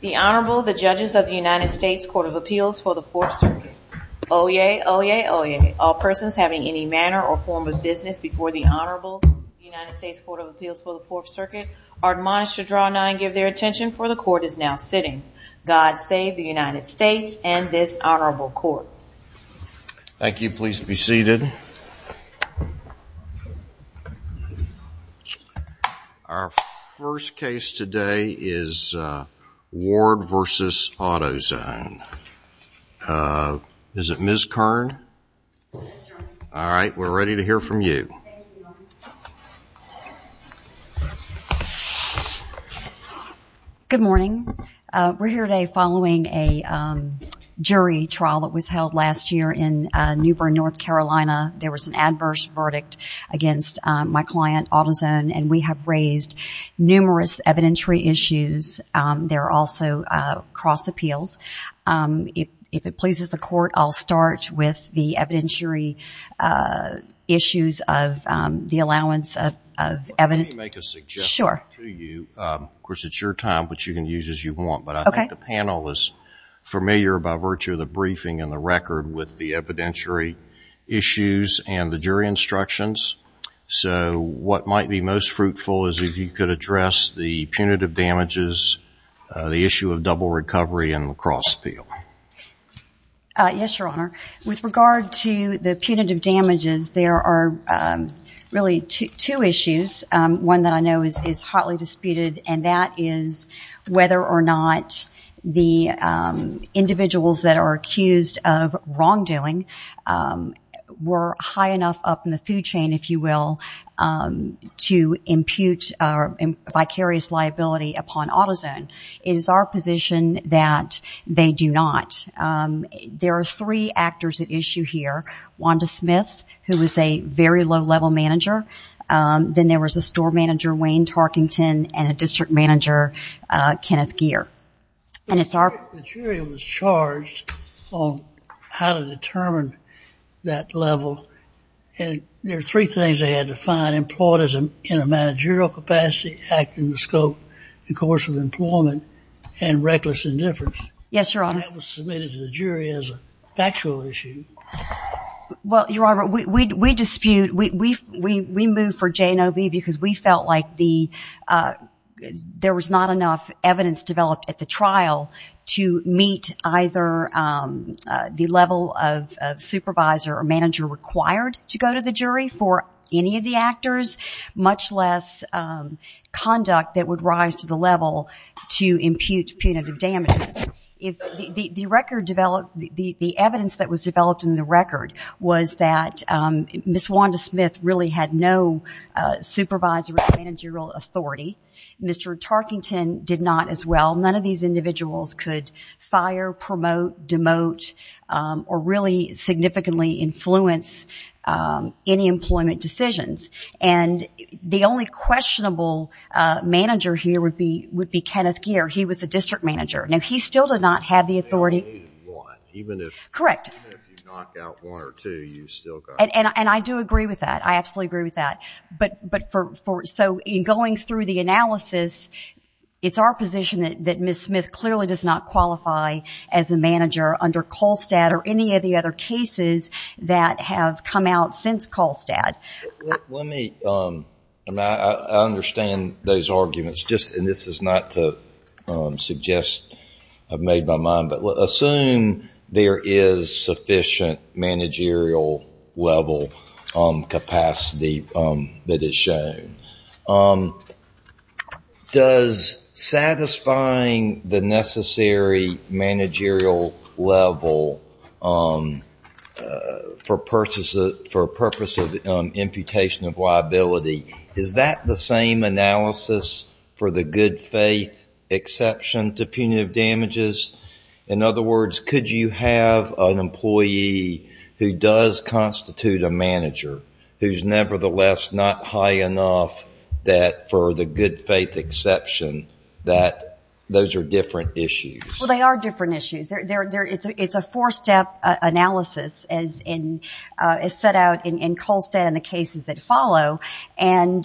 The Honorable, the judges of the United States Court of Appeals for the Fourth Circuit. Oyez, oyez, oyez. All persons having any manner or form of business before the Honorable United States Court of Appeals for the Fourth Circuit are admonished to draw nine, give their attention, for the court is now sitting. God save the United States and this Honorable Court. Thank you, please be seated. Today is Ward v. AutoZone. Is it Ms. Kern? All right, we're ready to hear from you. Good morning. We're here today following a jury trial that was held last year in New Bern, North Carolina. There was an adverse verdict against my evidentiary issues. There are also cross appeals. If it pleases the court, I'll start with the evidentiary issues of the allowance of evidence. Let me make a suggestion to you. Of course, it's your time, but you can use as you want, but I think the panel is familiar by virtue of the briefing and the record with the evidentiary issues and the jury instructions. So what might be most fruitful is if you could address the punitive damages, the issue of double recovery, and lacrosse appeal. Yes, Your Honor. With regard to the punitive damages, there are really two issues. One that I know is hotly disputed, and that is whether or not the individuals that are accused of wrongdoing were high enough up in the food chain, if you will, to impute vicarious liability upon AutoZone. It is our position that they do not. There are three actors at issue here. Wanda Smith, who is a very low-level manager. Then there was a store manager, Wayne Tarkington, and a district manager, Kenneth Geer. And it's our... The jury was charged on how to determine that level, and there are three things they had to find. Employedism in a managerial capacity, acting scope, the course of employment, and reckless indifference. Yes, Your Honor. That was submitted to the jury as a factual issue. Well, Your Honor, we dispute. We move for J and O B because we felt like there was not enough evidence developed at the trial to meet either the level of supervisor or manager required to go to the jury for any of the actors, much less conduct that would rise to the level to impute punitive damages. The evidence that was developed in the record was that Ms. Wanda Smith really had no supervisor or managerial authority. Mr. Tarkington did not as well. None of these individuals could fire, promote, demote, or really significantly influence any employment decisions. And the only questionable manager here would be Kenneth Geer. He was the district manager. Now, he still did not have the authority... Even if... Correct. Even if you knock out one or two, you still got... And I do agree with that. I absolutely agree with that. But for... So in going through the analysis, it's our position that Ms. Smith clearly does not qualify as a manager under Kolstad or any of the other cases that have come out since Kolstad. Let me... I understand those arguments. And this is not to suggest I've made my point, but assume there is sufficient managerial level capacity that is shown. Does satisfying the necessary managerial level for purpose of imputation of damages? In other words, could you have an employee who does constitute a manager who's nevertheless not high enough that for the good faith exception that those are different issues? Well, they are different issues. It's a four-step analysis as set out in Kolstad and the cases that follow. And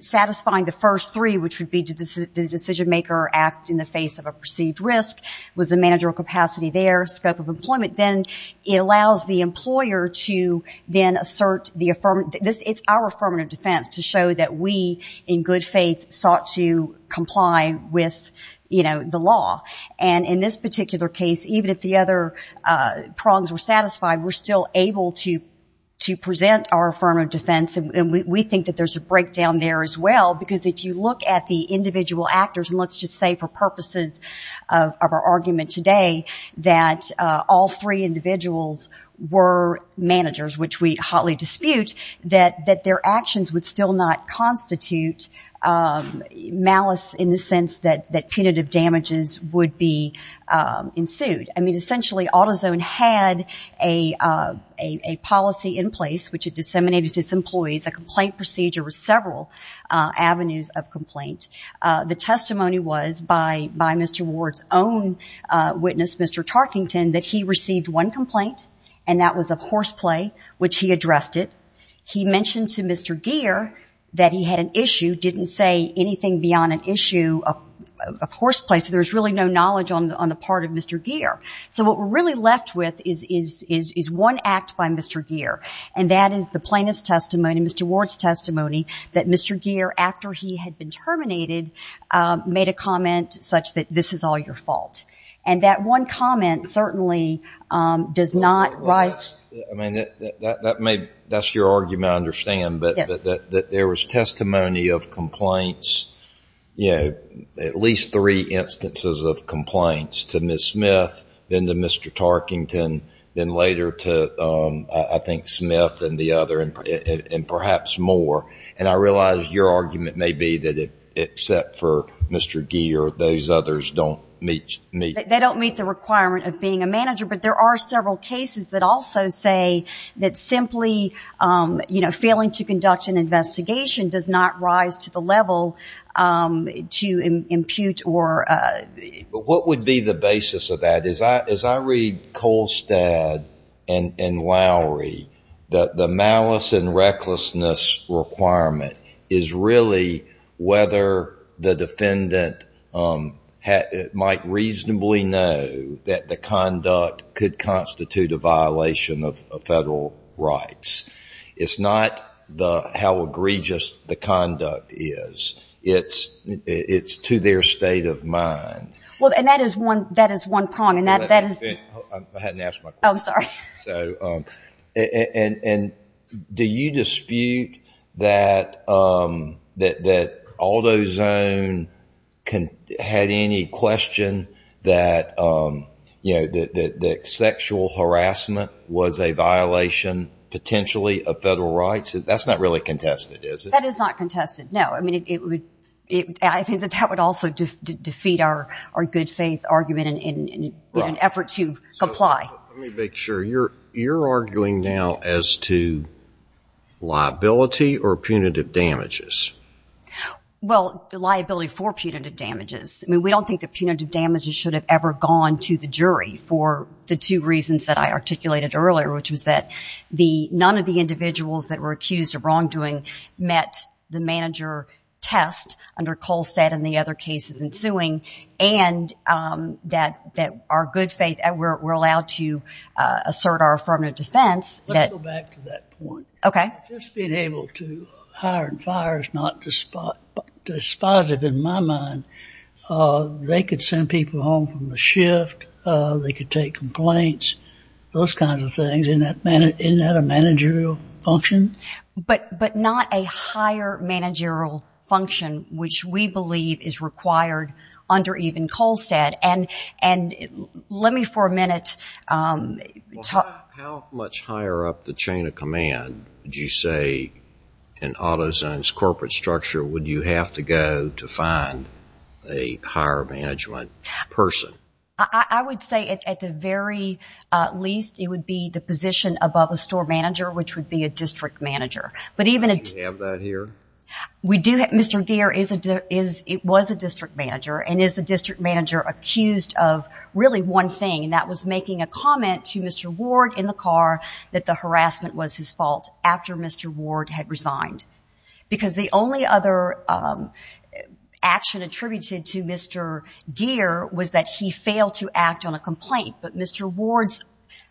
satisfying the first three, which would be the scope of employment in the face of a perceived risk, was the managerial capacity there, scope of employment, then it allows the employer to then assert the... It's our affirmative defense to show that we, in good faith, sought to comply with the law. And in this particular case, even if the other prongs were satisfied, we're still able to present our affirmative defense. And we think that there's a breakdown there as well. Because if you look at the individual actors, and let's just say for purposes of our argument today, that all three individuals were managers, which we hotly dispute, that their actions would still not constitute malice in the sense that punitive damages would be ensued. I mean, essentially AutoZone had a policy in place, which it disseminated to its employees, a complaint procedure with several avenues of complaint. The testimony was, by Mr. Ward's own witness, Mr. Tarkington, that he received one complaint, and that was of horseplay, which he addressed it. He mentioned to Mr. Gere that he had an issue, didn't say anything beyond an issue of horseplay. So there's really no knowledge on the part of Mr. Gere. So what we're really left with is one act by Mr. Gere. And that is the plaintiff's testimony, Mr. Ward's testimony, that Mr. Gere, after he had been terminated, made a comment such that, this is all your fault. And that one comment certainly does not rise to that. I mean, that's your argument, I understand, but that there was testimony of complaints, at least three instances of complaints, to Ms. Smith, then to Mr. Tarkington, then later to, I think, Smith and the other, and perhaps more. And I realize your argument may be that, except for Mr. Gere, those others don't meet. They don't meet the requirement of being a manager, but there are several cases that also say that simply, you know, failing to conduct an investigation does not rise to the level to impute or... What would be the basis of that? As I read Kolstad and Lowry, that the malice and recklessness requirement is really whether the defendant might reasonably know that the conduct could constitute a violation of federal rights. It's not how egregious the conduct is. It's to their state of mind. Well, and that is one prong, and that is... I hadn't asked my question. Oh, sorry. And do you dispute that Aldo Zone had any question that, you know, that sexual harassment was a violation, potentially, of federal rights? That's not really contested, is it? That is not contested, no. I mean, I think that that would also defeat our good faith argument in an effort to comply. Let me make sure. You're arguing now as to liability or punitive damages? Well, the liability for punitive damages. I mean, we don't think that punitive damages should have ever gone to the jury for the two reasons that I articulated earlier, which was that none of the individuals that were accused of wrongdoing met the manager test under Kolstad and the other cases ensuing, and that our good faith, we're allowed to assert our affirmative defense. Let's go back to that point. Okay. Just being able to hire and fire is not despot, despotitive in my mind. They could send people home from the shift. They could take complaints, those kinds of things. Isn't that a managerial function? But not a higher managerial function, which we believe is required under even Kolstad. And let me for a minute talk- How much higher up the chain of command would you say in AutoZone's corporate structure would you have to go to find a higher management person? I would say at the very least, it would be the position above a store manager, which would be a district manager. But even- Do you have that here? We do. Mr. Gere was a district manager and is the district manager accused of really one thing, and that was making a comment to Mr. Ward in the car that the harassment was his fault after Mr. Ward had resigned. Because the only other action attributed to Mr. Gere was that he failed to act on a complaint, but Mr. Ward's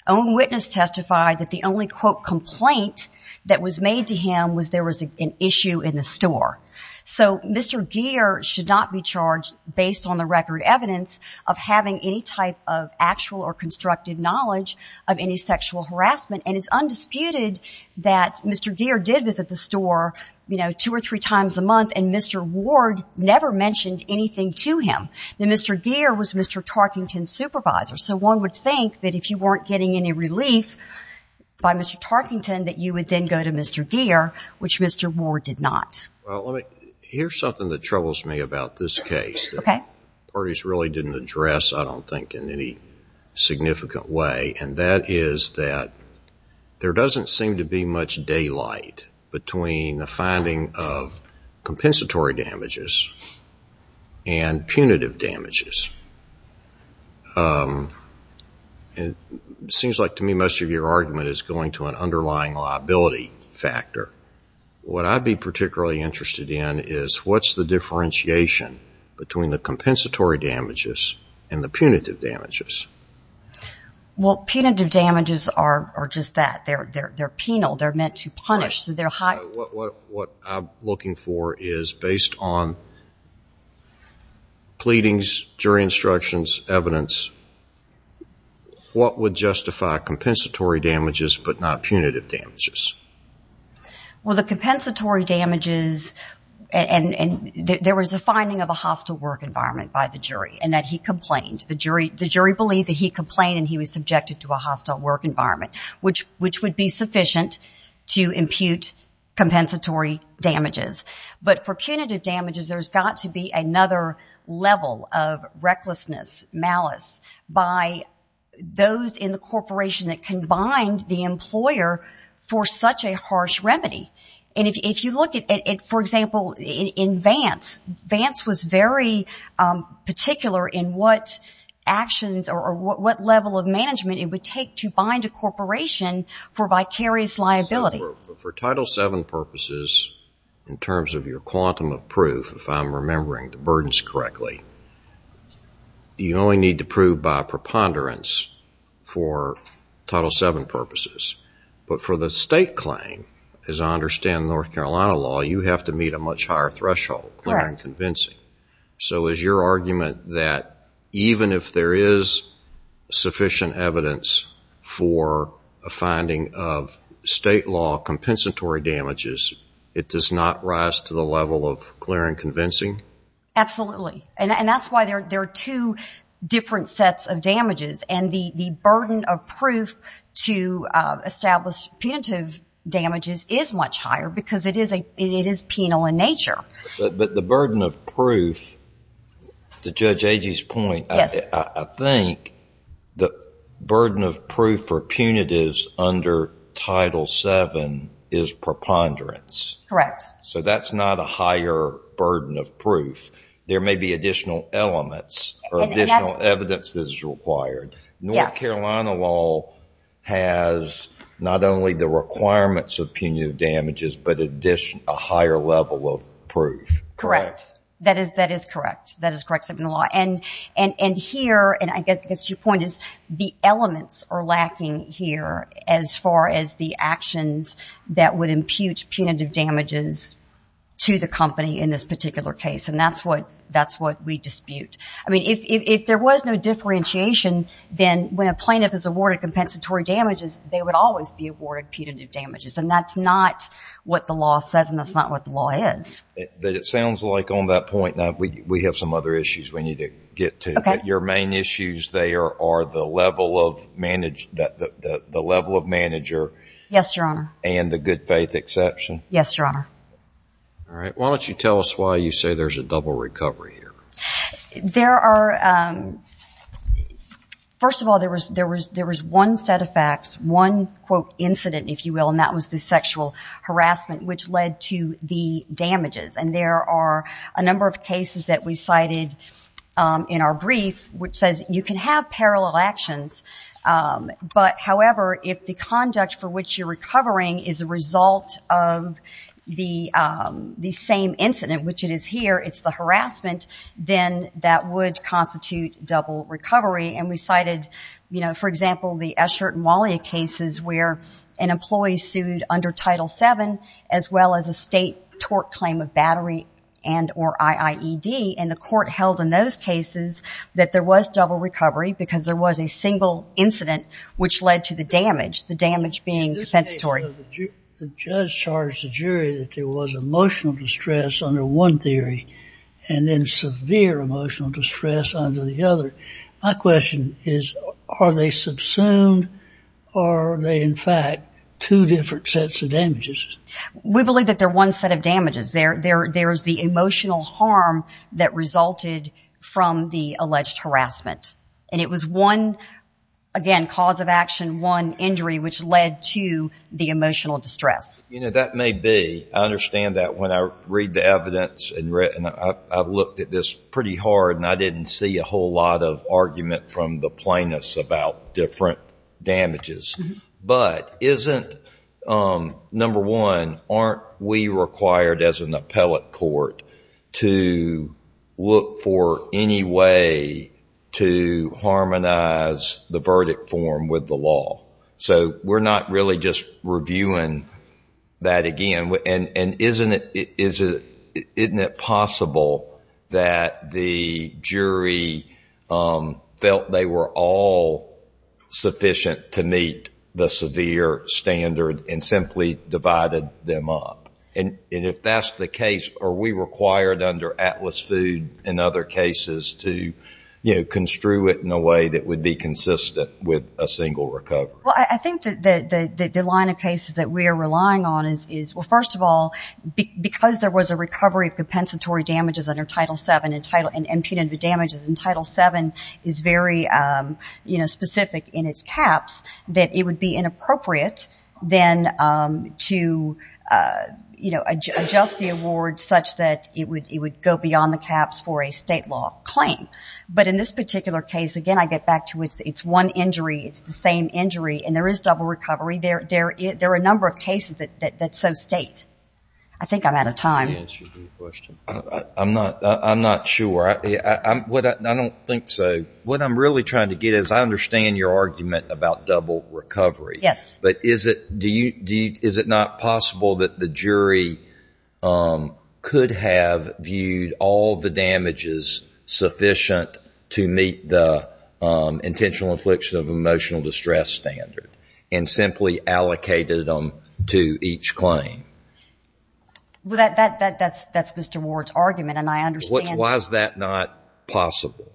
own witness testified that the only quote, complaint that was made to him was there was an issue in the store. So Mr. Gere should not be charged based on the record evidence of having any type of actual or constructive knowledge of any sexual harassment. And it's undisputed that Mr. Gere did visit the store, you know, two or three times a month, and Mr. Ward never mentioned anything to him. Now, Mr. Gere was Mr. Tarkington's supervisor, so one would think that if you weren't getting any relief by Mr. Tarkington, that you would then go to Mr. Gere, which Mr. Ward did not. Well, let me, here's something that troubles me about this case. Okay. Parties really didn't address, I don't think, in any significant way, and that is that there doesn't seem to be much daylight between the finding of seems like to me, most of your argument is going to an underlying liability factor. What I'd be particularly interested in is what's the differentiation between the compensatory damages and the punitive damages? Well, punitive damages are just that. They're penal. They're meant to punish. So they're high. What I'm looking for is based on pleadings, jury instructions, evidence, what would justify compensatory damages, but not punitive damages? Well, the compensatory damages, and there was a finding of a hostile work environment by the jury, and that he complained. The jury believed that he complained and he was subjected to a hostile work environment, which would be sufficient to impute compensatory damages. But for punitive damages, there's got to be another level of recklessness, malice, by those in the corporation that can bind the employer for such a harsh remedy. And if you look at, for example, in Vance, Vance was very particular in what actions or what level of management it would take to bind a corporation for vicarious liability. For Title VII purposes, in terms of your quantum of proof, if I'm correct, you only need to prove by preponderance for Title VII purposes. But for the state claim, as I understand North Carolina law, you have to meet a much higher threshold, clear and convincing. So is your argument that even if there is sufficient evidence for a finding of state law compensatory damages, it does not rise to the level of clear and convincing? Absolutely. And that's why there are two different sets of damages. And the burden of proof to establish punitive damages is much higher because it is penal in nature. But the burden of proof, to Judge Agee's point, I think the burden of proof for punitives under Title VII is preponderance. So that's not a higher burden of proof. There may be additional elements or additional evidence that is required. North Carolina law has not only the requirements of punitive damages, but a higher level of proof. Correct. That is correct. That is correct. And here, and I guess to your point, the elements are lacking here as far as the actions that would impute punitive damages to the company in this particular case. And that's what we dispute. I mean, if there was no differentiation, then when a plaintiff is awarded compensatory damages, they would always be awarded punitive damages. And that's not what the law says, and that's not what the law is. It sounds like on that point, we have some other issues we need to get to. Your main issues there are the level of manager and the good faith exception. Yes, Your Honor. All right. Why don't you tell us why you say there's a double recovery here? There are, first of all, there was one set of facts, one, quote, incident, if you will, and that was the sexual harassment, which led to the damages. And there are a number of cases that we cited in our brief which says you can have parallel actions, but however, if the conduct for which you're the same incident, which it is here, it's the harassment, then that would constitute double recovery. And we cited, for example, the Eschert and Wallia cases where an employee sued under Title VII as well as a state tort claim of battery and or IIED. And the court held in those cases that there was double recovery because there was a single incident which led to the damage, the damage being compensatory. The judge charged the jury that there was emotional distress under one theory and then severe emotional distress under the other. My question is, are they subsumed or are they, in fact, two different sets of damages? We believe that they're one set of damages. There's the emotional harm that resulted from the alleged harassment. And it was one, again, cause of action, one, injury, which led to the emotional distress. You know, that may be. I understand that when I read the evidence and I looked at this pretty hard and I didn't see a whole lot of argument from the plaintiffs about different damages, but isn't, number one, aren't we required as an appellate court to look for any way to harmonize the verdict form with the law? So we're not really just reviewing that again. And isn't it possible that the jury felt they were all sufficient to meet the severe standard and simply divided them up? And if that's the case, are we required under Atlas Food and other cases to, you know, construe it in a way that would be consistent with a single recovery? Well, I think that the line of cases that we are relying on is, well, first of all, because there was a recovery of compensatory damages under Title VII and impunity damages under Title VII is very, you know, specific in its caps, that it would be inappropriate then to, you know, adjust the award such that it would go beyond the caps for a state law claim. But in this particular case, again, I get back to it's one injury, it's the same injury, and there is double recovery. There are a number of cases that so state. I think I'm out of time. I'm not sure. I don't think so. What I'm really trying to get at is I understand your argument about double recovery. Yes. But is it not possible that the jury could have viewed all the damages sufficient to meet the intentional infliction of emotional distress standard and simply allocated them to each claim? That's Mr. Ward's argument, and I understand. Why is that not possible?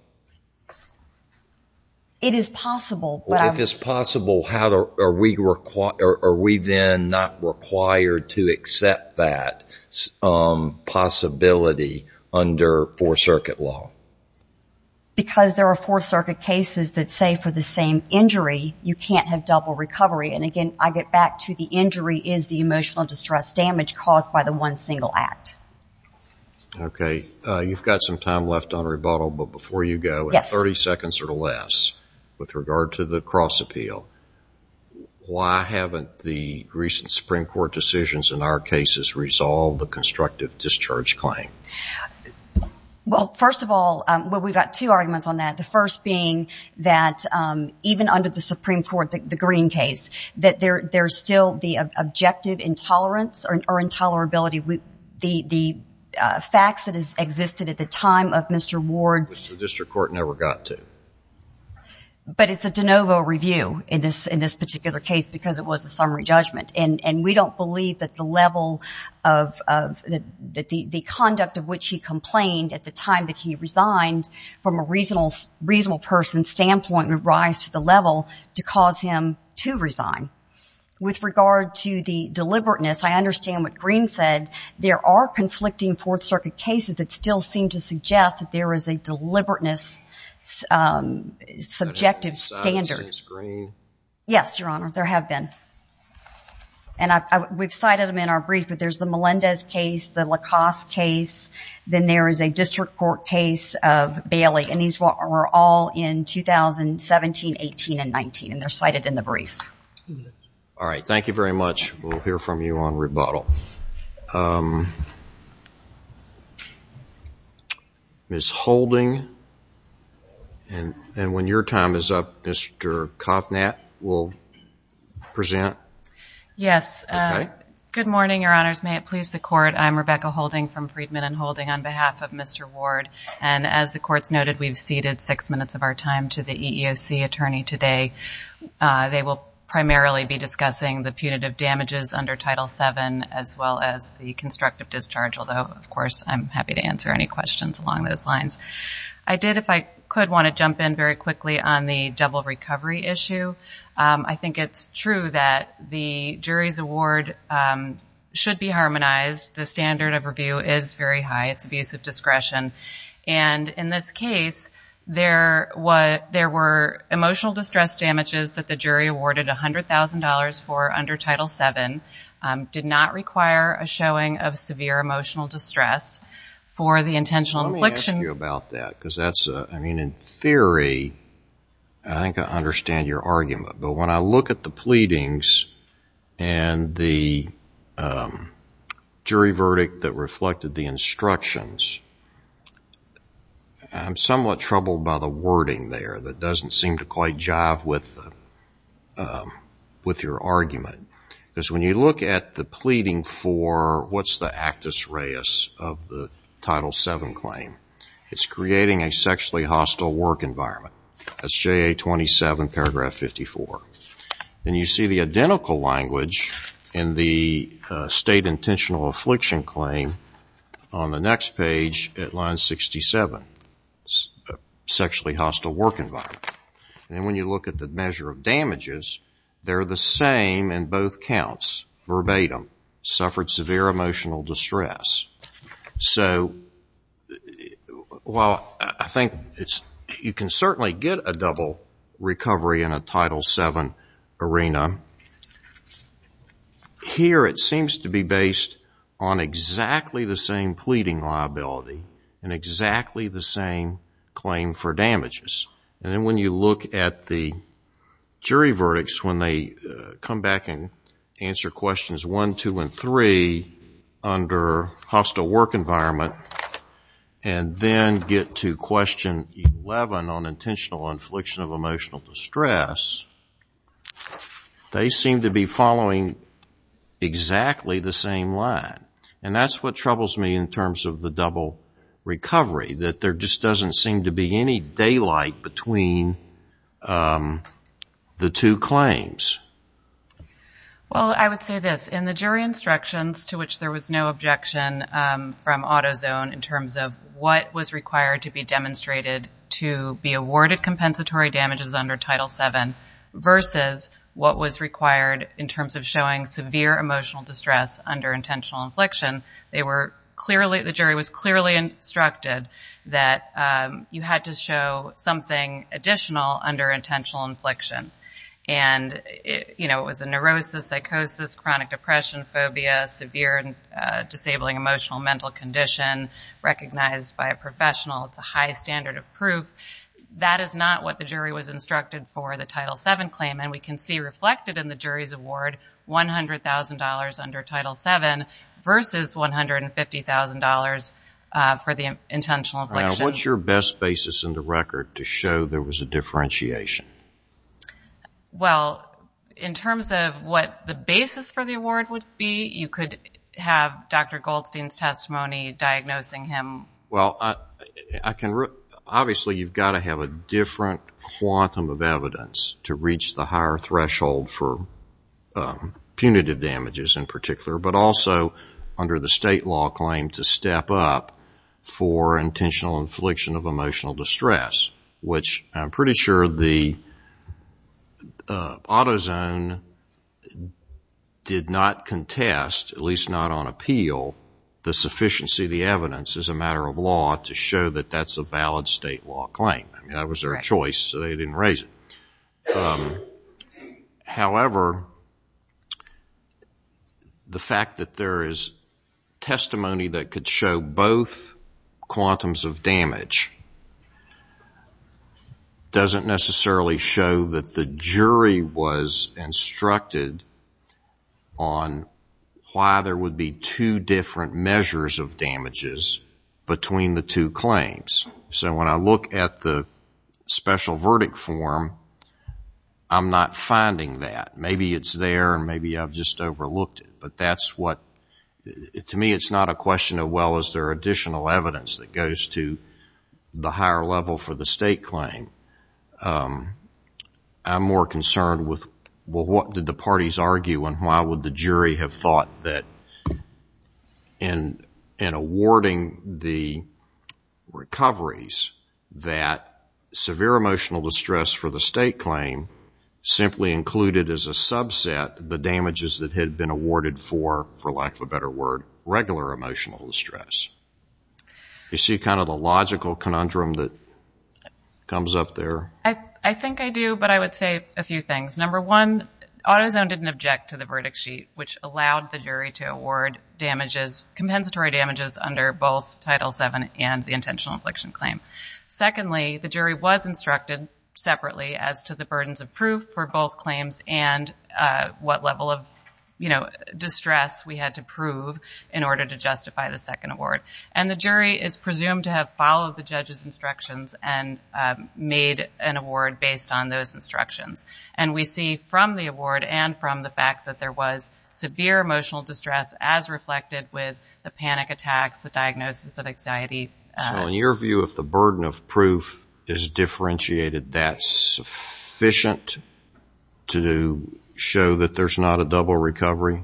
It is possible. Well, if it's possible, are we then not required to accept that possibility under Fourth Circuit law? Because there are Fourth Circuit cases that say for the same injury, you can't have double recovery. And again, I get back to the injury is the emotional distress damage caused by the one single act. Okay. You've got some time left on rebuttal, but before you go, 30 seconds or less with regard to the cross appeal, why haven't the recent Supreme Court decisions in our cases resolved the constructive discharge claim? Well, first of all, we've got two arguments on that, the first being that even under the Supreme Court, the Green case, there's still the objective intolerance or intolerability, the facts that existed at the time of Mr. Ward's. Which the district court never got to. But it's a de novo review in this particular case because it was a summary judgment. And we don't believe that the level of the conduct of which he complained at the time that he resigned from a reasonable person standpoint would rise to the level to cause him to resign. With regard to the deliberateness, I understand what Green said. There are conflicting Fourth Circuit cases that still seem to suggest that there is a deliberateness subjective standard. Yes, Your Honor, there have been. And we've cited them in our brief, but there's the Melendez case, the LaCoste case, then there is a district court case of Bailey, and these were all in 2017, 18, and 19, and they're cited in the brief. All right. Thank you very much. We'll hear from you on rebuttal. Ms. Holding, and when your time is up, Mr. Kovnat will present. Yes. Okay. Good morning, Your Honors. May it please the Court. I'm Rebecca Holding from Friedman and Holding on behalf of Mr. Ward. And as the Court's noted, we've ceded six minutes of our time to the EEOC attorney today. They will primarily be discussing the punitive damages under Title VII as well as the constructive discharge, although, of course, I'm happy to answer any questions along those lines. I did, if I could, want to jump in very quickly on the double recovery issue. I think it's true that the jury's award should be harmonized. The standard of review is very high. It's abuse of discretion. And in this case, there were emotional distress damages that the jury awarded $100,000 for under Title VII, did not require a showing of severe emotional distress for the intentional infliction. Let me ask you about that, because that's a, I mean, in theory, I think I understand your argument. But when I look at the pleadings and the jury verdict that reflected the instructions, I'm somewhat troubled by the wording there that doesn't seem to quite jive with your argument. Because when you look at the pleading for what's the actus reus of the Title VII claim, it's creating a sexually hostile work environment. That's JA 27, paragraph 54. And you see the identical language in the state intentional affliction claim on the And when you look at the measure of damages, they're the same in both counts, verbatim. Suffered severe emotional distress. So while I think you can certainly get a double recovery in a Title VII arena, here it seems to be based on exactly the same pleading liability and exactly the same claim for damages. And then when you look at the jury verdicts, when they come back and answer questions one, two, and three under hostile work environment, and then get to question 11 on intentional infliction of emotional distress, they seem to be following exactly the same line. And that's what troubles me in terms of the double recovery, that there just doesn't seem to be any daylight between the two claims. Well, I would say this. In the jury instructions, to which there was no objection from AutoZone in terms of what was required to be demonstrated to be awarded compensatory damages under Title VII versus what was required in terms of showing severe emotional distress under intentional infliction, they were clearly, the jury was clearly instructed that you had to show something additional under intentional infliction. And it was a neurosis, psychosis, chronic depression, phobia, severe and disabling emotional mental condition recognized by a professional, it's a high standard of proof. That is not what the jury was instructed for the Title VII claim, and we can see reflected in the jury's award, $100,000 under Title VII versus $150,000 for the intentional infliction. What's your best basis in the record to show there was a differentiation? Well, in terms of what the basis for the award would be, you could have Dr. Goldstein's testimony diagnosing him. Well, obviously you've got to have a different quantum of evidence to reach the higher threshold for punitive damages in particular, but also under the state law claim to step up for intentional infliction of emotional distress, which I'm pretty sure the AutoZone did not contest, at least not on appeal, the sufficiency of the evidence as a matter of law to show that that's a valid state law claim. That was their choice, so they didn't raise it. However, the fact that there is testimony that could show both quantums of damage doesn't necessarily show that the jury was instructed on why there would be two different measures of damages between the two claims. So when I look at the special verdict form, I'm not finding that. Maybe it's there and maybe I've just overlooked it, but that's what, to me, it's not a question of well, is there additional evidence that goes to the higher level for the state claim. I'm more concerned with, well, what did the parties argue and why would the jury have thought that in awarding the recoveries that severe emotional distress for the state claim simply included as a subset the damages that had been awarded for, for lack of a better word, regular emotional distress. You see kind of the logical conundrum that comes up there? I think I do, but I would say a few things. Number one, AutoZone didn't object to the verdict sheet, which allowed the jury to award damages, compensatory damages, under both Title VII and the intentional infliction claim. Secondly, the jury was instructed separately as to the burdens of proof for both claims and what level of distress we had to prove in order to justify the second award. And the jury is presumed to have followed the judge's instructions and made an award based on those instructions. And we see from the award and from the fact that there was severe emotional distress as reflected with the panic attacks, the diagnosis of anxiety. So in your view, if the burden of proof is differentiated, that's sufficient to show that there's not a double recovery?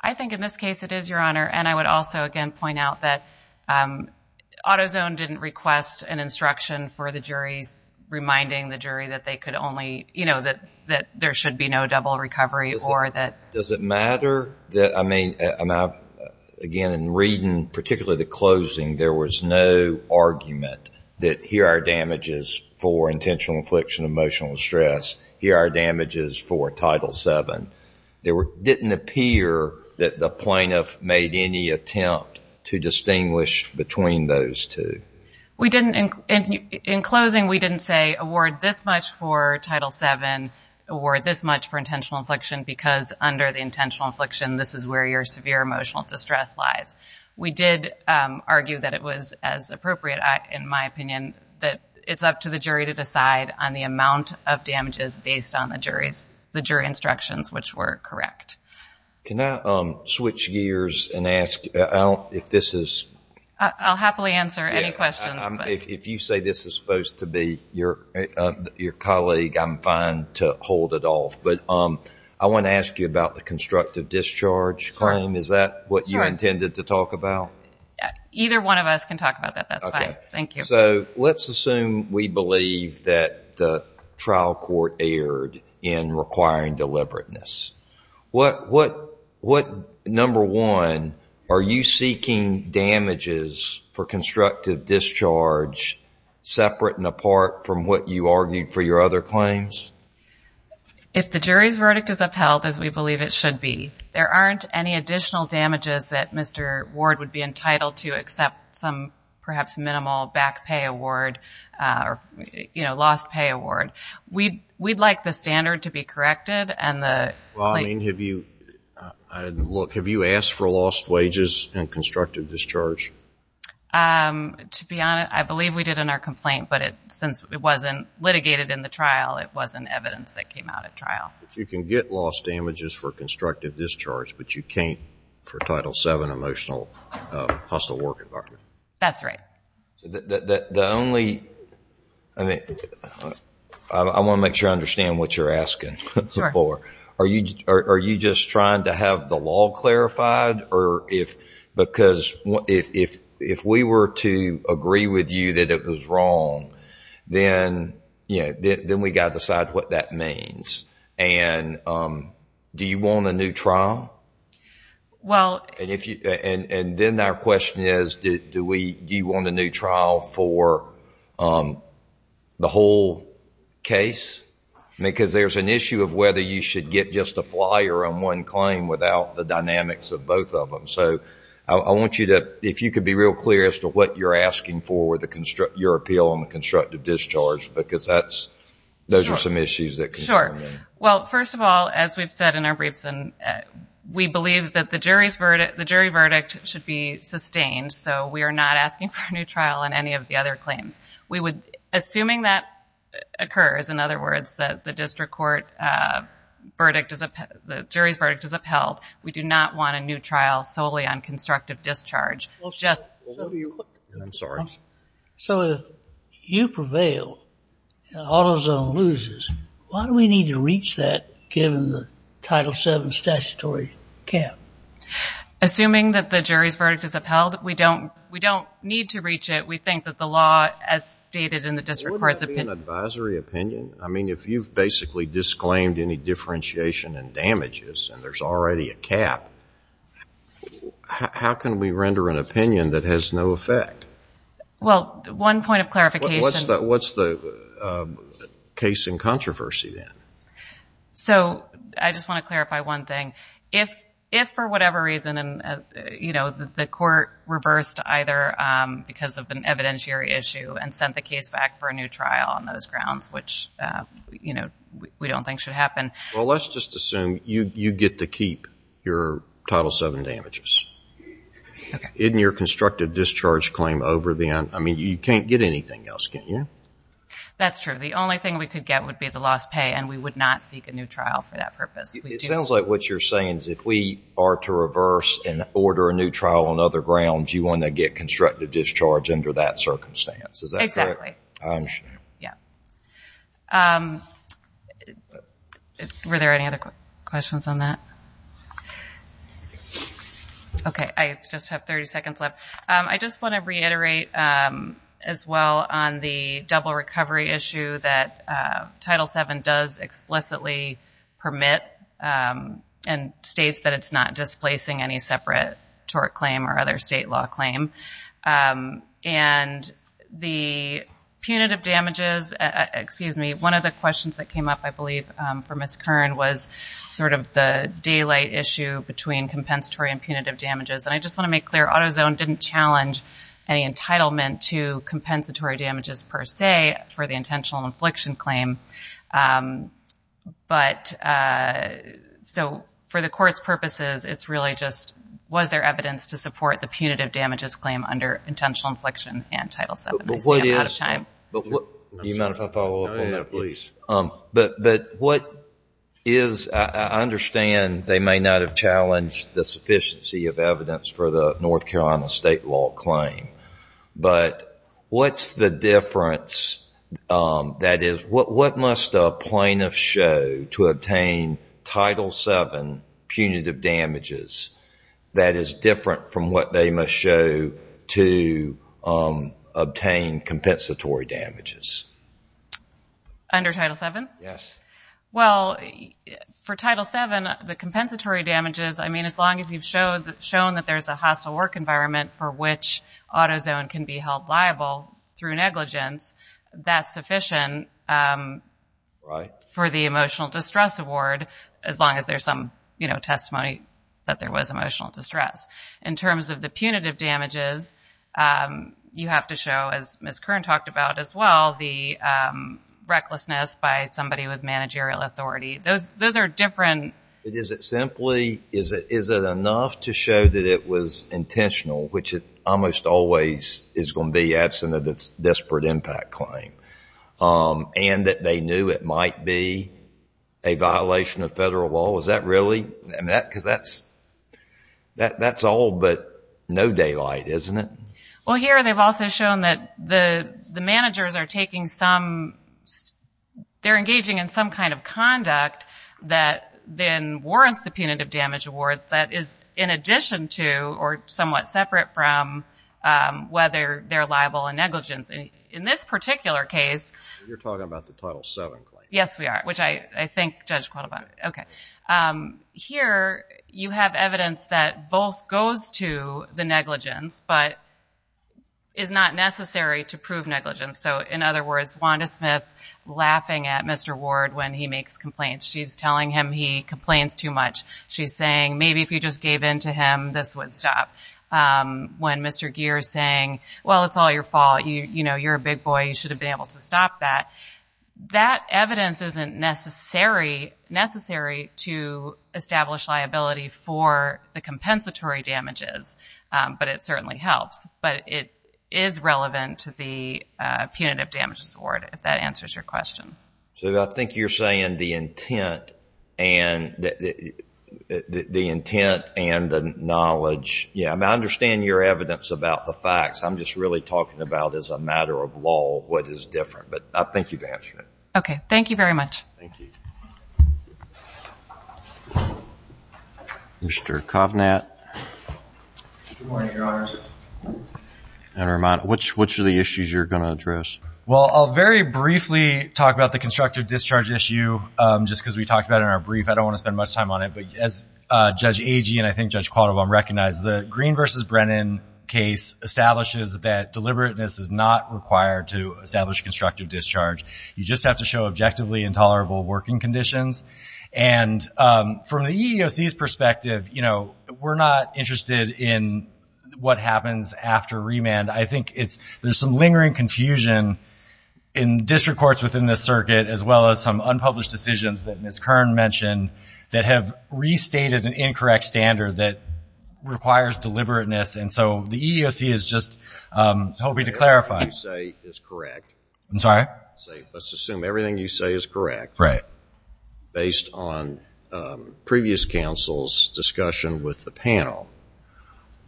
I think in this case it is, Your Honor. And I would also again point out that AutoZone didn't request an instruction for the juries reminding the jury that there should be no double recovery or that... Does it matter that, I mean, again, in reading particularly the closing, there was no argument that here are damages for intentional infliction of emotional distress, here are damages for Title VII. There didn't appear that the plaintiff made any attempt to distinguish between those two. We didn't... In closing, we didn't say award this much for Title VII, award this much for intentional infliction because under the intentional infliction, this is where your severe emotional distress lies. We did argue that it was as appropriate, in my opinion, that it's up to the jury to decide on the amount of damages based on the jury's, the jury instructions, which were correct. Can I switch gears and ask if this is... I'll happily answer any questions. If you say this is supposed to be your colleague, I'm fine to hold it off, but I want to ask you about the constructive discharge claim. Is that what you intended to talk about? Either one of us can talk about that. That's fine. Thank you. So let's assume we believe that the trial court erred in requiring deliberateness. What, number one, are you seeking damages for constructive discharge separate and apart from what you argued for your other claims? If the jury's verdict is upheld as we believe it should be, there aren't any additional damages that Mr. Ward would be entitled to except some perhaps minimal back pay award or lost pay award. We'd like the standard to be corrected and the... Well, I mean, have you, look, have you asked for lost wages in constructive discharge? To be honest, I believe we did in our complaint, but since it wasn't litigated in the trial, it wasn't evidence that came out at trial. You can get lost damages for constructive discharge, but you can't for Title VII emotional hostile work environment. That's right. The only, I mean, I want to make sure I understand what you're asking. Sure. Are you just trying to have the law clarified or if, because if we were to agree with you that it was wrong, then, you know, then we got to decide what that means. And do you want a new trial? Well... And then our question is, do we, do you want a new trial for the whole case? Because there's an issue of whether you should get just a flyer on one claim without the dynamics of both of them. So I want you to, if you could be real clear as to what you're asking for with your appeal on the constructive discharge, because that's, those are some issues that concern me. Sure. Well, first of all, as we've said in our briefs, we believe that the jury's verdict, the jury verdict should be sustained. So we are not asking for a new trial on any of the other claims. We would, assuming that occurs, in other words, that the district court verdict is upheld, the jury's verdict is upheld, we do not want a new trial solely on constructive discharge. Just... I'm sorry. So if you prevail and AutoZone loses, why do we need to reach that given the Title VII statutory cap? Assuming that the jury's verdict is upheld, we don't, we don't need to reach it. We think that the law, as stated in the district court's opinion... Wouldn't that be an advisory opinion? I mean, if you've basically disclaimed any differentiation and damages and there's already a cap, how can we render an opinion that has no effect? Well, one point of clarification... What's the case in controversy then? So I just want to clarify one thing. If for whatever reason, you know, the court reversed either because of an evidentiary issue and sent the case back for a new trial on those grounds, which, you know, we don't think should happen... Well, let's just assume you get to keep your Title VII damages. Okay. In your constructive discharge claim over the... I mean, you can't get anything else, can you? That's true. The only thing we could get would be the lost pay and we would not seek a new trial for that purpose. It sounds like what you're saying is if we are to reverse and order a new trial on other grounds, you want to get constructive discharge under that circumstance. Is that correct? Exactly. I understand. Yeah. Thank you. Were there any other questions on that? Okay. I just have 30 seconds left. I just want to reiterate, as well, on the double recovery issue that Title VII does explicitly permit and states that it's not displacing any separate tort claim or other state law claim. And the punitive damages... Excuse me. One of the questions that came up, I believe, for Ms. Kern was sort of the daylight issue between compensatory and punitive damages. And I just want to make clear, AutoZone didn't challenge any entitlement to compensatory damages per se for the intentional infliction claim. But so for the court's purposes, it's really just was there evidence to support the punitive damages claim under intentional infliction and Title VII. I see I'm out of time. But what is... Do you mind if I follow up on that, please? But what is... I understand they may not have challenged the sufficiency of evidence for the North Carolina state law claim. But what's the difference? That is, what must a plaintiff show to obtain Title VII punitive damages that is different from what they must show to obtain compensatory damages? Under Title VII? Yes. Well, for Title VII, the compensatory damages, I mean, as long as you've shown that there's a hostile work environment for which AutoZone can be held liable through negligence, that's sufficient for the emotional distress award, as long as there's some testimony that there was emotional distress. In terms of the punitive damages, you have to show, as Ms. Kern talked about as well, the recklessness by somebody with managerial authority. Those are different... But is it simply, is it enough to show that it was intentional, which it almost always is going to be absent of the desperate impact claim, and that they knew it might be a violation of federal law? Is that really? Because that's all but no daylight, isn't it? Well, here they've also shown that the managers are taking some... They're engaging in some kind of conduct that then warrants the punitive damage award that is in addition to, or somewhat separate from, whether they're liable in negligence. In this particular case... You're talking about the Title VII claim. Yes, we are. Which I think Judge Quill about it. Here you have evidence that both goes to the negligence, but is not necessary to prove negligence. So in other words, Wanda Smith laughing at Mr. Ward when he makes complaints. She's telling him he complains too much. She's saying, maybe if you just gave in to him, this would stop. When Mr. Geer is saying, well, it's all your fault. You're a big boy. You should have been able to stop that. That evidence isn't necessary to establish liability for the compensatory damages, but it certainly helps. But it is relevant to the punitive damages award, if that answers your question. So I think you're saying the intent and the knowledge... I understand your evidence about the facts. I'm just really talking about as a matter of law, what is different. But I think you've answered it. Okay. Thank you very much. Thank you. Mr. Kovnat. Good morning, Your Honors. And Ramon. Which of the issues you're going to address? Well, I'll very briefly talk about the constructive discharge issue, just because we talked about it in our brief. I don't want to spend much time on it. But as Judge Agee and I think Judge Qualdobom recognized, the Green v. Brennan case establishes that deliberateness is not required to establish constructive discharge. You just have to show objectively intolerable working conditions. And from the EEOC's perspective, we're not interested in what happens after remand. I think there's some lingering confusion in district courts within this circuit, as well as some unpublished decisions that Ms. Kern mentioned, that have restated an incorrect standard that requires deliberateness. And so the EEOC is just hoping to clarify. What you say is correct. I'm sorry? Let's assume everything you say is correct. Right. Based on previous counsel's discussion with the panel,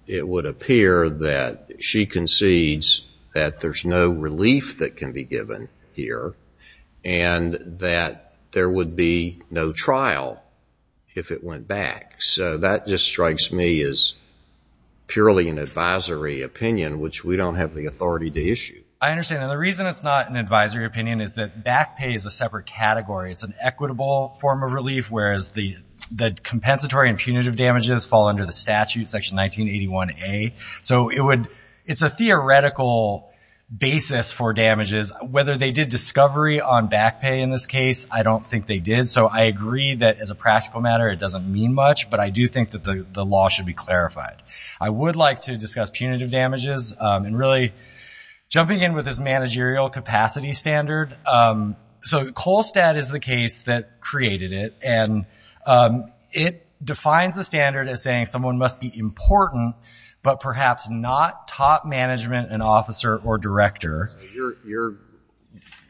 it would appear that she concedes that there's no relief that can be given here, and that there would be no trial if it went back. So that just strikes me as purely an advisory opinion, which we don't have the authority to issue. I understand. And the reason it's not an advisory opinion is that back pay is a separate category. It's an equitable form of relief, whereas the compensatory and punitive damages fall under the statute, Section 1981A. So it's a theoretical basis for damages. Whether they did discovery on back pay in this case, I don't think they did. So I agree that, as a practical matter, it doesn't mean much. But I do think that the law should be clarified. I would like to discuss punitive damages, and really jumping in with this managerial capacity standard. So Kohlstadt is the case that created it. And it defines the standard as saying someone must be important, but perhaps not top management, an officer, or director.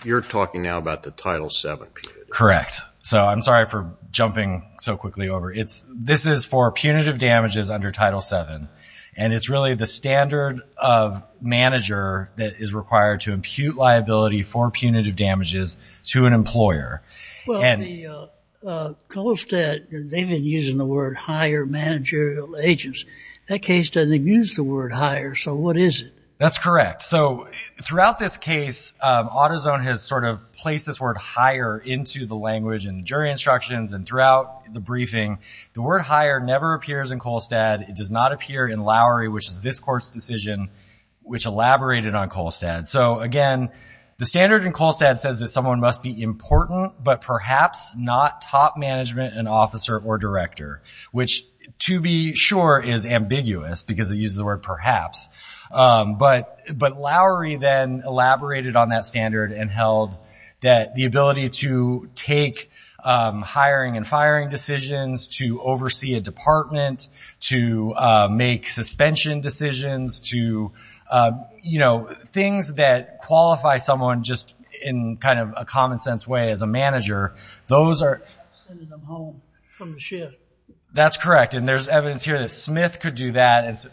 You're talking now about the Title VII punitive damages. Correct. So I'm sorry for jumping so quickly over. This is for punitive damages under Title VII. And it's really the standard of manager that is required to impute liability for punitive damages to an employer. Well, Kohlstadt, they've been using the word hire managerial agents. That case doesn't use the word hire. So what is it? That's correct. So throughout this case, AutoZone has sort of placed this word hire into the language and jury instructions. And throughout the briefing, the word hire never appears in Kohlstadt. It does not appear in Lowry, which is this court's decision, which elaborated on Kohlstadt. So again, the standard in Kohlstadt says that someone must be important, but perhaps not top management, an officer, or director. Which, to be sure, is ambiguous, because it uses the word perhaps. But Lowry then elaborated on that standard and held that the ability to take hiring and firing decisions, to oversee a department, to make suspension decisions, to, you know, things that qualify someone just in kind of a common sense way as a manager, those are- Sending them home from the shift. That's correct. And there's evidence here that Smith could do that. Does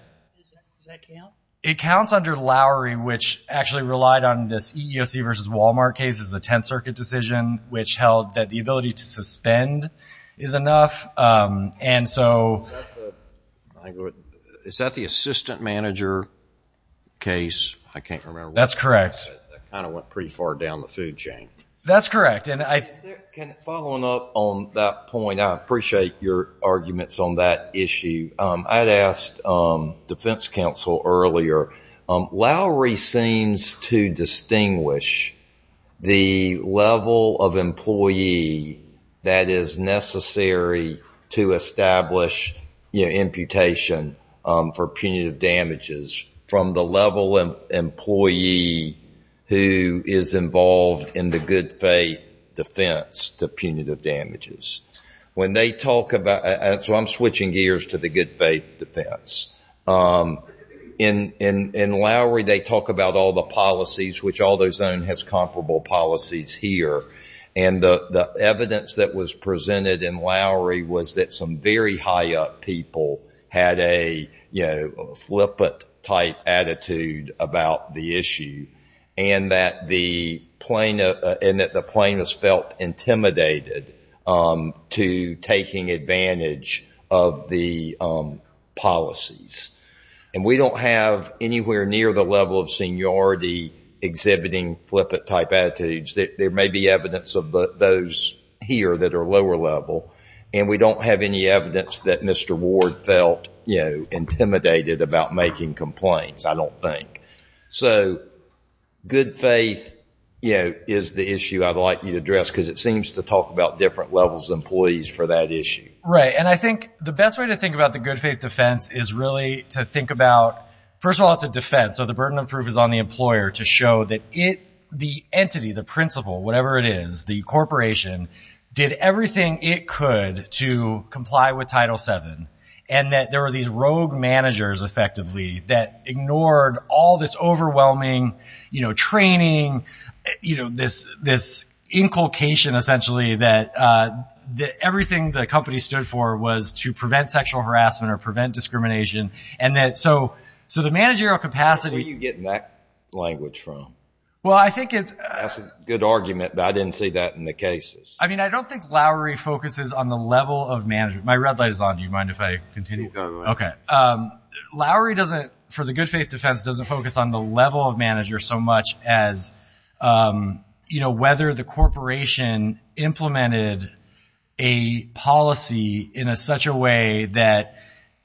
that count? It counts under Lowry, which actually relied on this EEOC versus Walmart case as the Tenth Circuit decision, which held that the ability to suspend is enough. And so- Is that the assistant manager case? I can't remember. That's correct. That kind of went pretty far down the food chain. That's correct. And I- Following up on that point, I appreciate your arguments on that issue. I had asked defense counsel earlier, Lowry seems to distinguish the level of employee that is necessary to establish, you know, imputation for punitive damages from the level of employee who is involved in the good faith defense to punitive damages. When they talk about- So I'm switching gears to the good faith defense. In Lowry, they talk about all the policies, which Aldo's own has comparable policies here. And the evidence that was presented in Lowry was that some very high up people had a, you know, good faith attitude and that the plaintiffs felt intimidated to taking advantage of the policies. And we don't have anywhere near the level of seniority exhibiting flippant type attitudes. There may be evidence of those here that are lower level, and we don't have any evidence that Mr. Ward felt, you know, intimidated about making complaints, I don't think. So good faith, you know, is the issue I'd like you to address, because it seems to talk about different levels of employees for that issue. Right. And I think the best way to think about the good faith defense is really to think about- First of all, it's a defense, so the burden of proof is on the employer to show that it, the entity, the principal, whatever it is, the corporation, did everything it could to comply with Title VII. And that there were these rogue managers, effectively, that ignored all this overwhelming, you know, training, you know, this inculcation, essentially, that everything the company stood for was to prevent sexual harassment or prevent discrimination. And that, so the managerial capacity- Where are you getting that language from? Well, I think it's- That's a good argument, but I didn't see that in the cases. I mean, I don't think Lowry focuses on the level of management. My red light is on. Do you mind if I continue? No, go ahead. Okay. Lowry doesn't, for the good faith defense, doesn't focus on the level of manager so much as, you know, whether the corporation implemented a policy in such a way that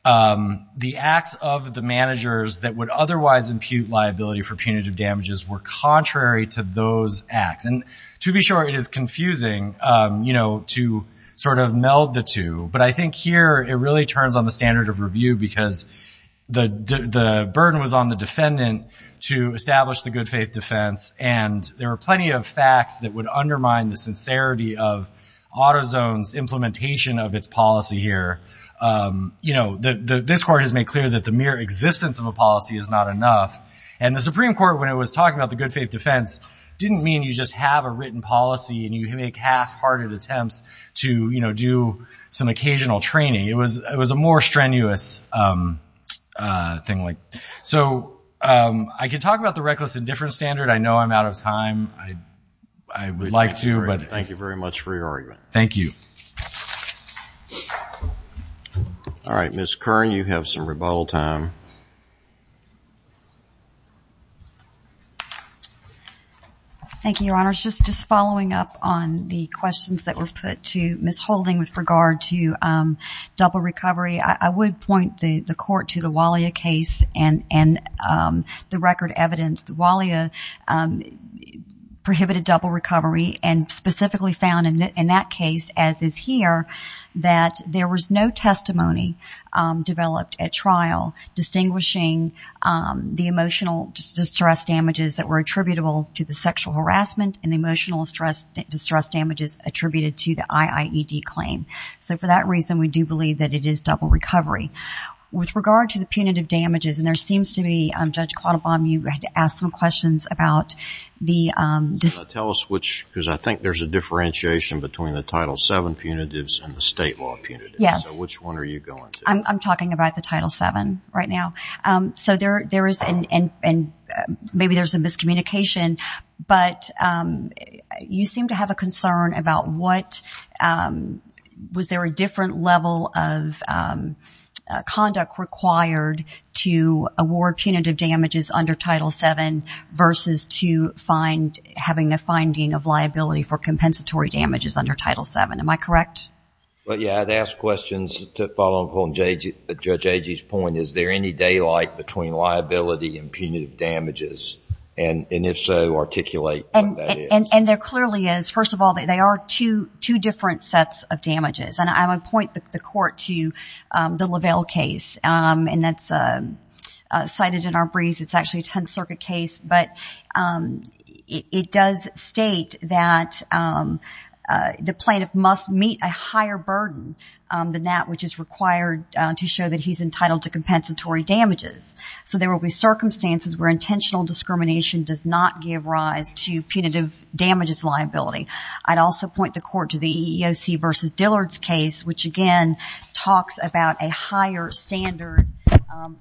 the acts of the managers that would otherwise impute liability for punitive damages were contrary to those acts. And to be sure, it is confusing, you know, to sort of meld the two. But I think here it really turns on the standard of review because the burden was on the defendant to establish the good faith defense. And there were plenty of facts that would undermine the sincerity of AutoZone's implementation of its policy here. You know, this court has made clear that the mere existence of a policy is not enough. And the Supreme Court, when it was talking about the good faith defense, didn't mean you just have a written policy and you make half-hearted attempts to, you know, do some occasional training. It was a more strenuous thing. So I could talk about the reckless indifference standard. I know I'm out of time. I would like to. Thank you very much for your argument. Thank you. All right, Ms. Kern, you have some rebuttal time. Thank you, Your Honors. Just following up on the questions that were put to Ms. Holding with regard to double recovery, I would point the court to the Wallia case and the record evidence. The Wallia prohibited double recovery and specifically found in that case, as is here, that there was no testimony developed at trial distinguishing the emotional distress damages that were attributable to the sexual harassment and the emotional distress damages attributed to the IIED claim. So for that reason, we do believe that it is double recovery. With regard to the punitive damages, and there seems to be, Judge Quattlebaum, you had to ask some questions about the... Tell us which, because I think there's a differentiation between the Title VII punitives and the state law punitives. Yes. So which one are you going to? I'm talking about the Title VII right now. So there is, and maybe there's a miscommunication, but you seem to have a concern about was there a different level of conduct required to award punitive damages under Title VII versus to having a finding of liability for compensatory damages under Title VII. Am I correct? Well, yeah. I'd ask questions to follow up on Judge Agee's point. Is there any daylight between liability and punitive damages, and if so, articulate what that is. And there clearly is. First of all, they are two different sets of damages, and I would point the court to the Lavelle case, and that's cited in our brief. It's actually a Tenth Circuit case, but it does state that the plaintiff must meet a higher burden than that which is required to show that he's entitled to compensatory damages. So there will be circumstances where intentional discrimination does not give rise to punitive damages liability. I'd also point the court to the EEOC versus Dillard's case, which again talks about a higher standard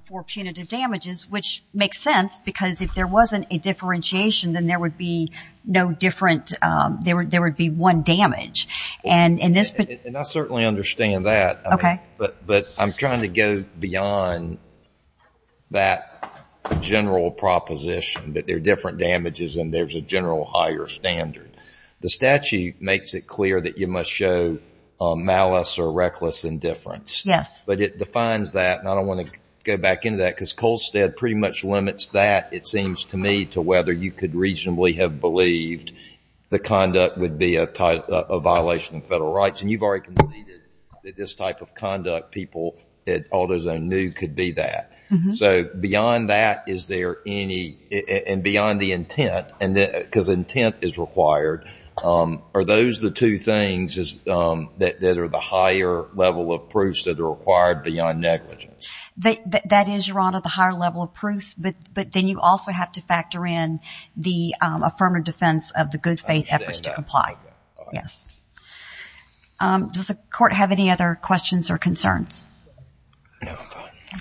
for punitive damages, which makes sense, because if there wasn't a differentiation, then there would be no different, there would be one damage. And I certainly understand that, but I'm trying to go beyond that general proposition that there are different damages and there's a general higher standard. The statute makes it clear that you must show malice or reckless indifference. Yes. But it defines that, and I don't want to go back into that, because Colstead pretty much limits that, it seems to me, to whether you could reasonably have believed the conduct would be a violation of federal rights, and you've already conceded that this type of conduct people at AutoZone knew could be that. So beyond that, is there any, and beyond the intent, because intent is required, are those the two things that are the higher level of proofs that are required beyond negligence? That is, Your Honor, the higher level of proofs, but then you also have to factor in the affirmative defense of the good faith efforts to comply. Yes. Does the court have any other questions or concerns?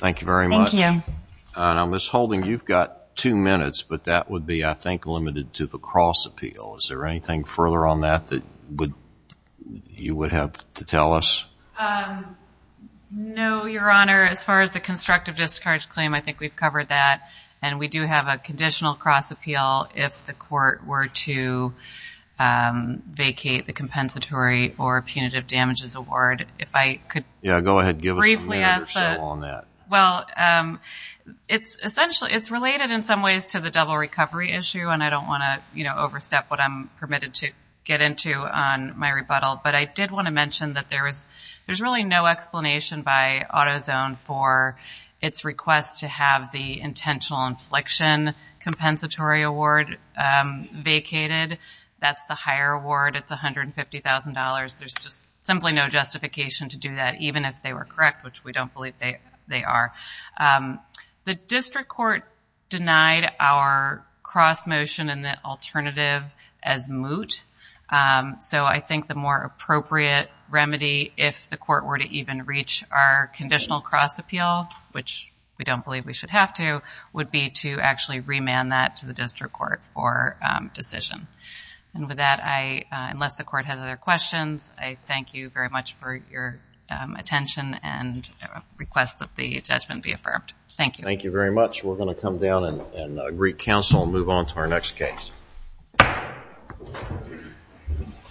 Thank you very much. Thank you. And I'm just holding, you've got two minutes, but that would be, I think, limited to the cross appeal. Is there anything further on that that you would have to tell us? No, Your Honor. As far as the constructive discourage claim, I think we've covered that, and we do have a conditional cross appeal if the court were to vacate the compensatory or punitive damages award. If I could briefly ask that. Yeah, go ahead. Give us a minute or so on that. Well, it's essentially, it's related in some ways to the double recovery issue, and I don't want to overstep what I'm permitted to get into on my rebuttal. But I did want to mention that there's really no explanation by AutoZone for its request to have the intentional infliction compensatory award vacated. That's the higher award. It's $150,000. There's just simply no justification to do that, even if they were correct, which we don't believe they are. The district court denied our cross motion and the alternative as moot. So I think the more appropriate remedy, if the court were to even reach our conditional cross appeal, which we don't believe we should have to, would be to actually remand that to the district court for decision. And with that, unless the court has other questions, I thank you very much for your Thank you. Thank you very much. We're going to come down and greet counsel and move on to our next case.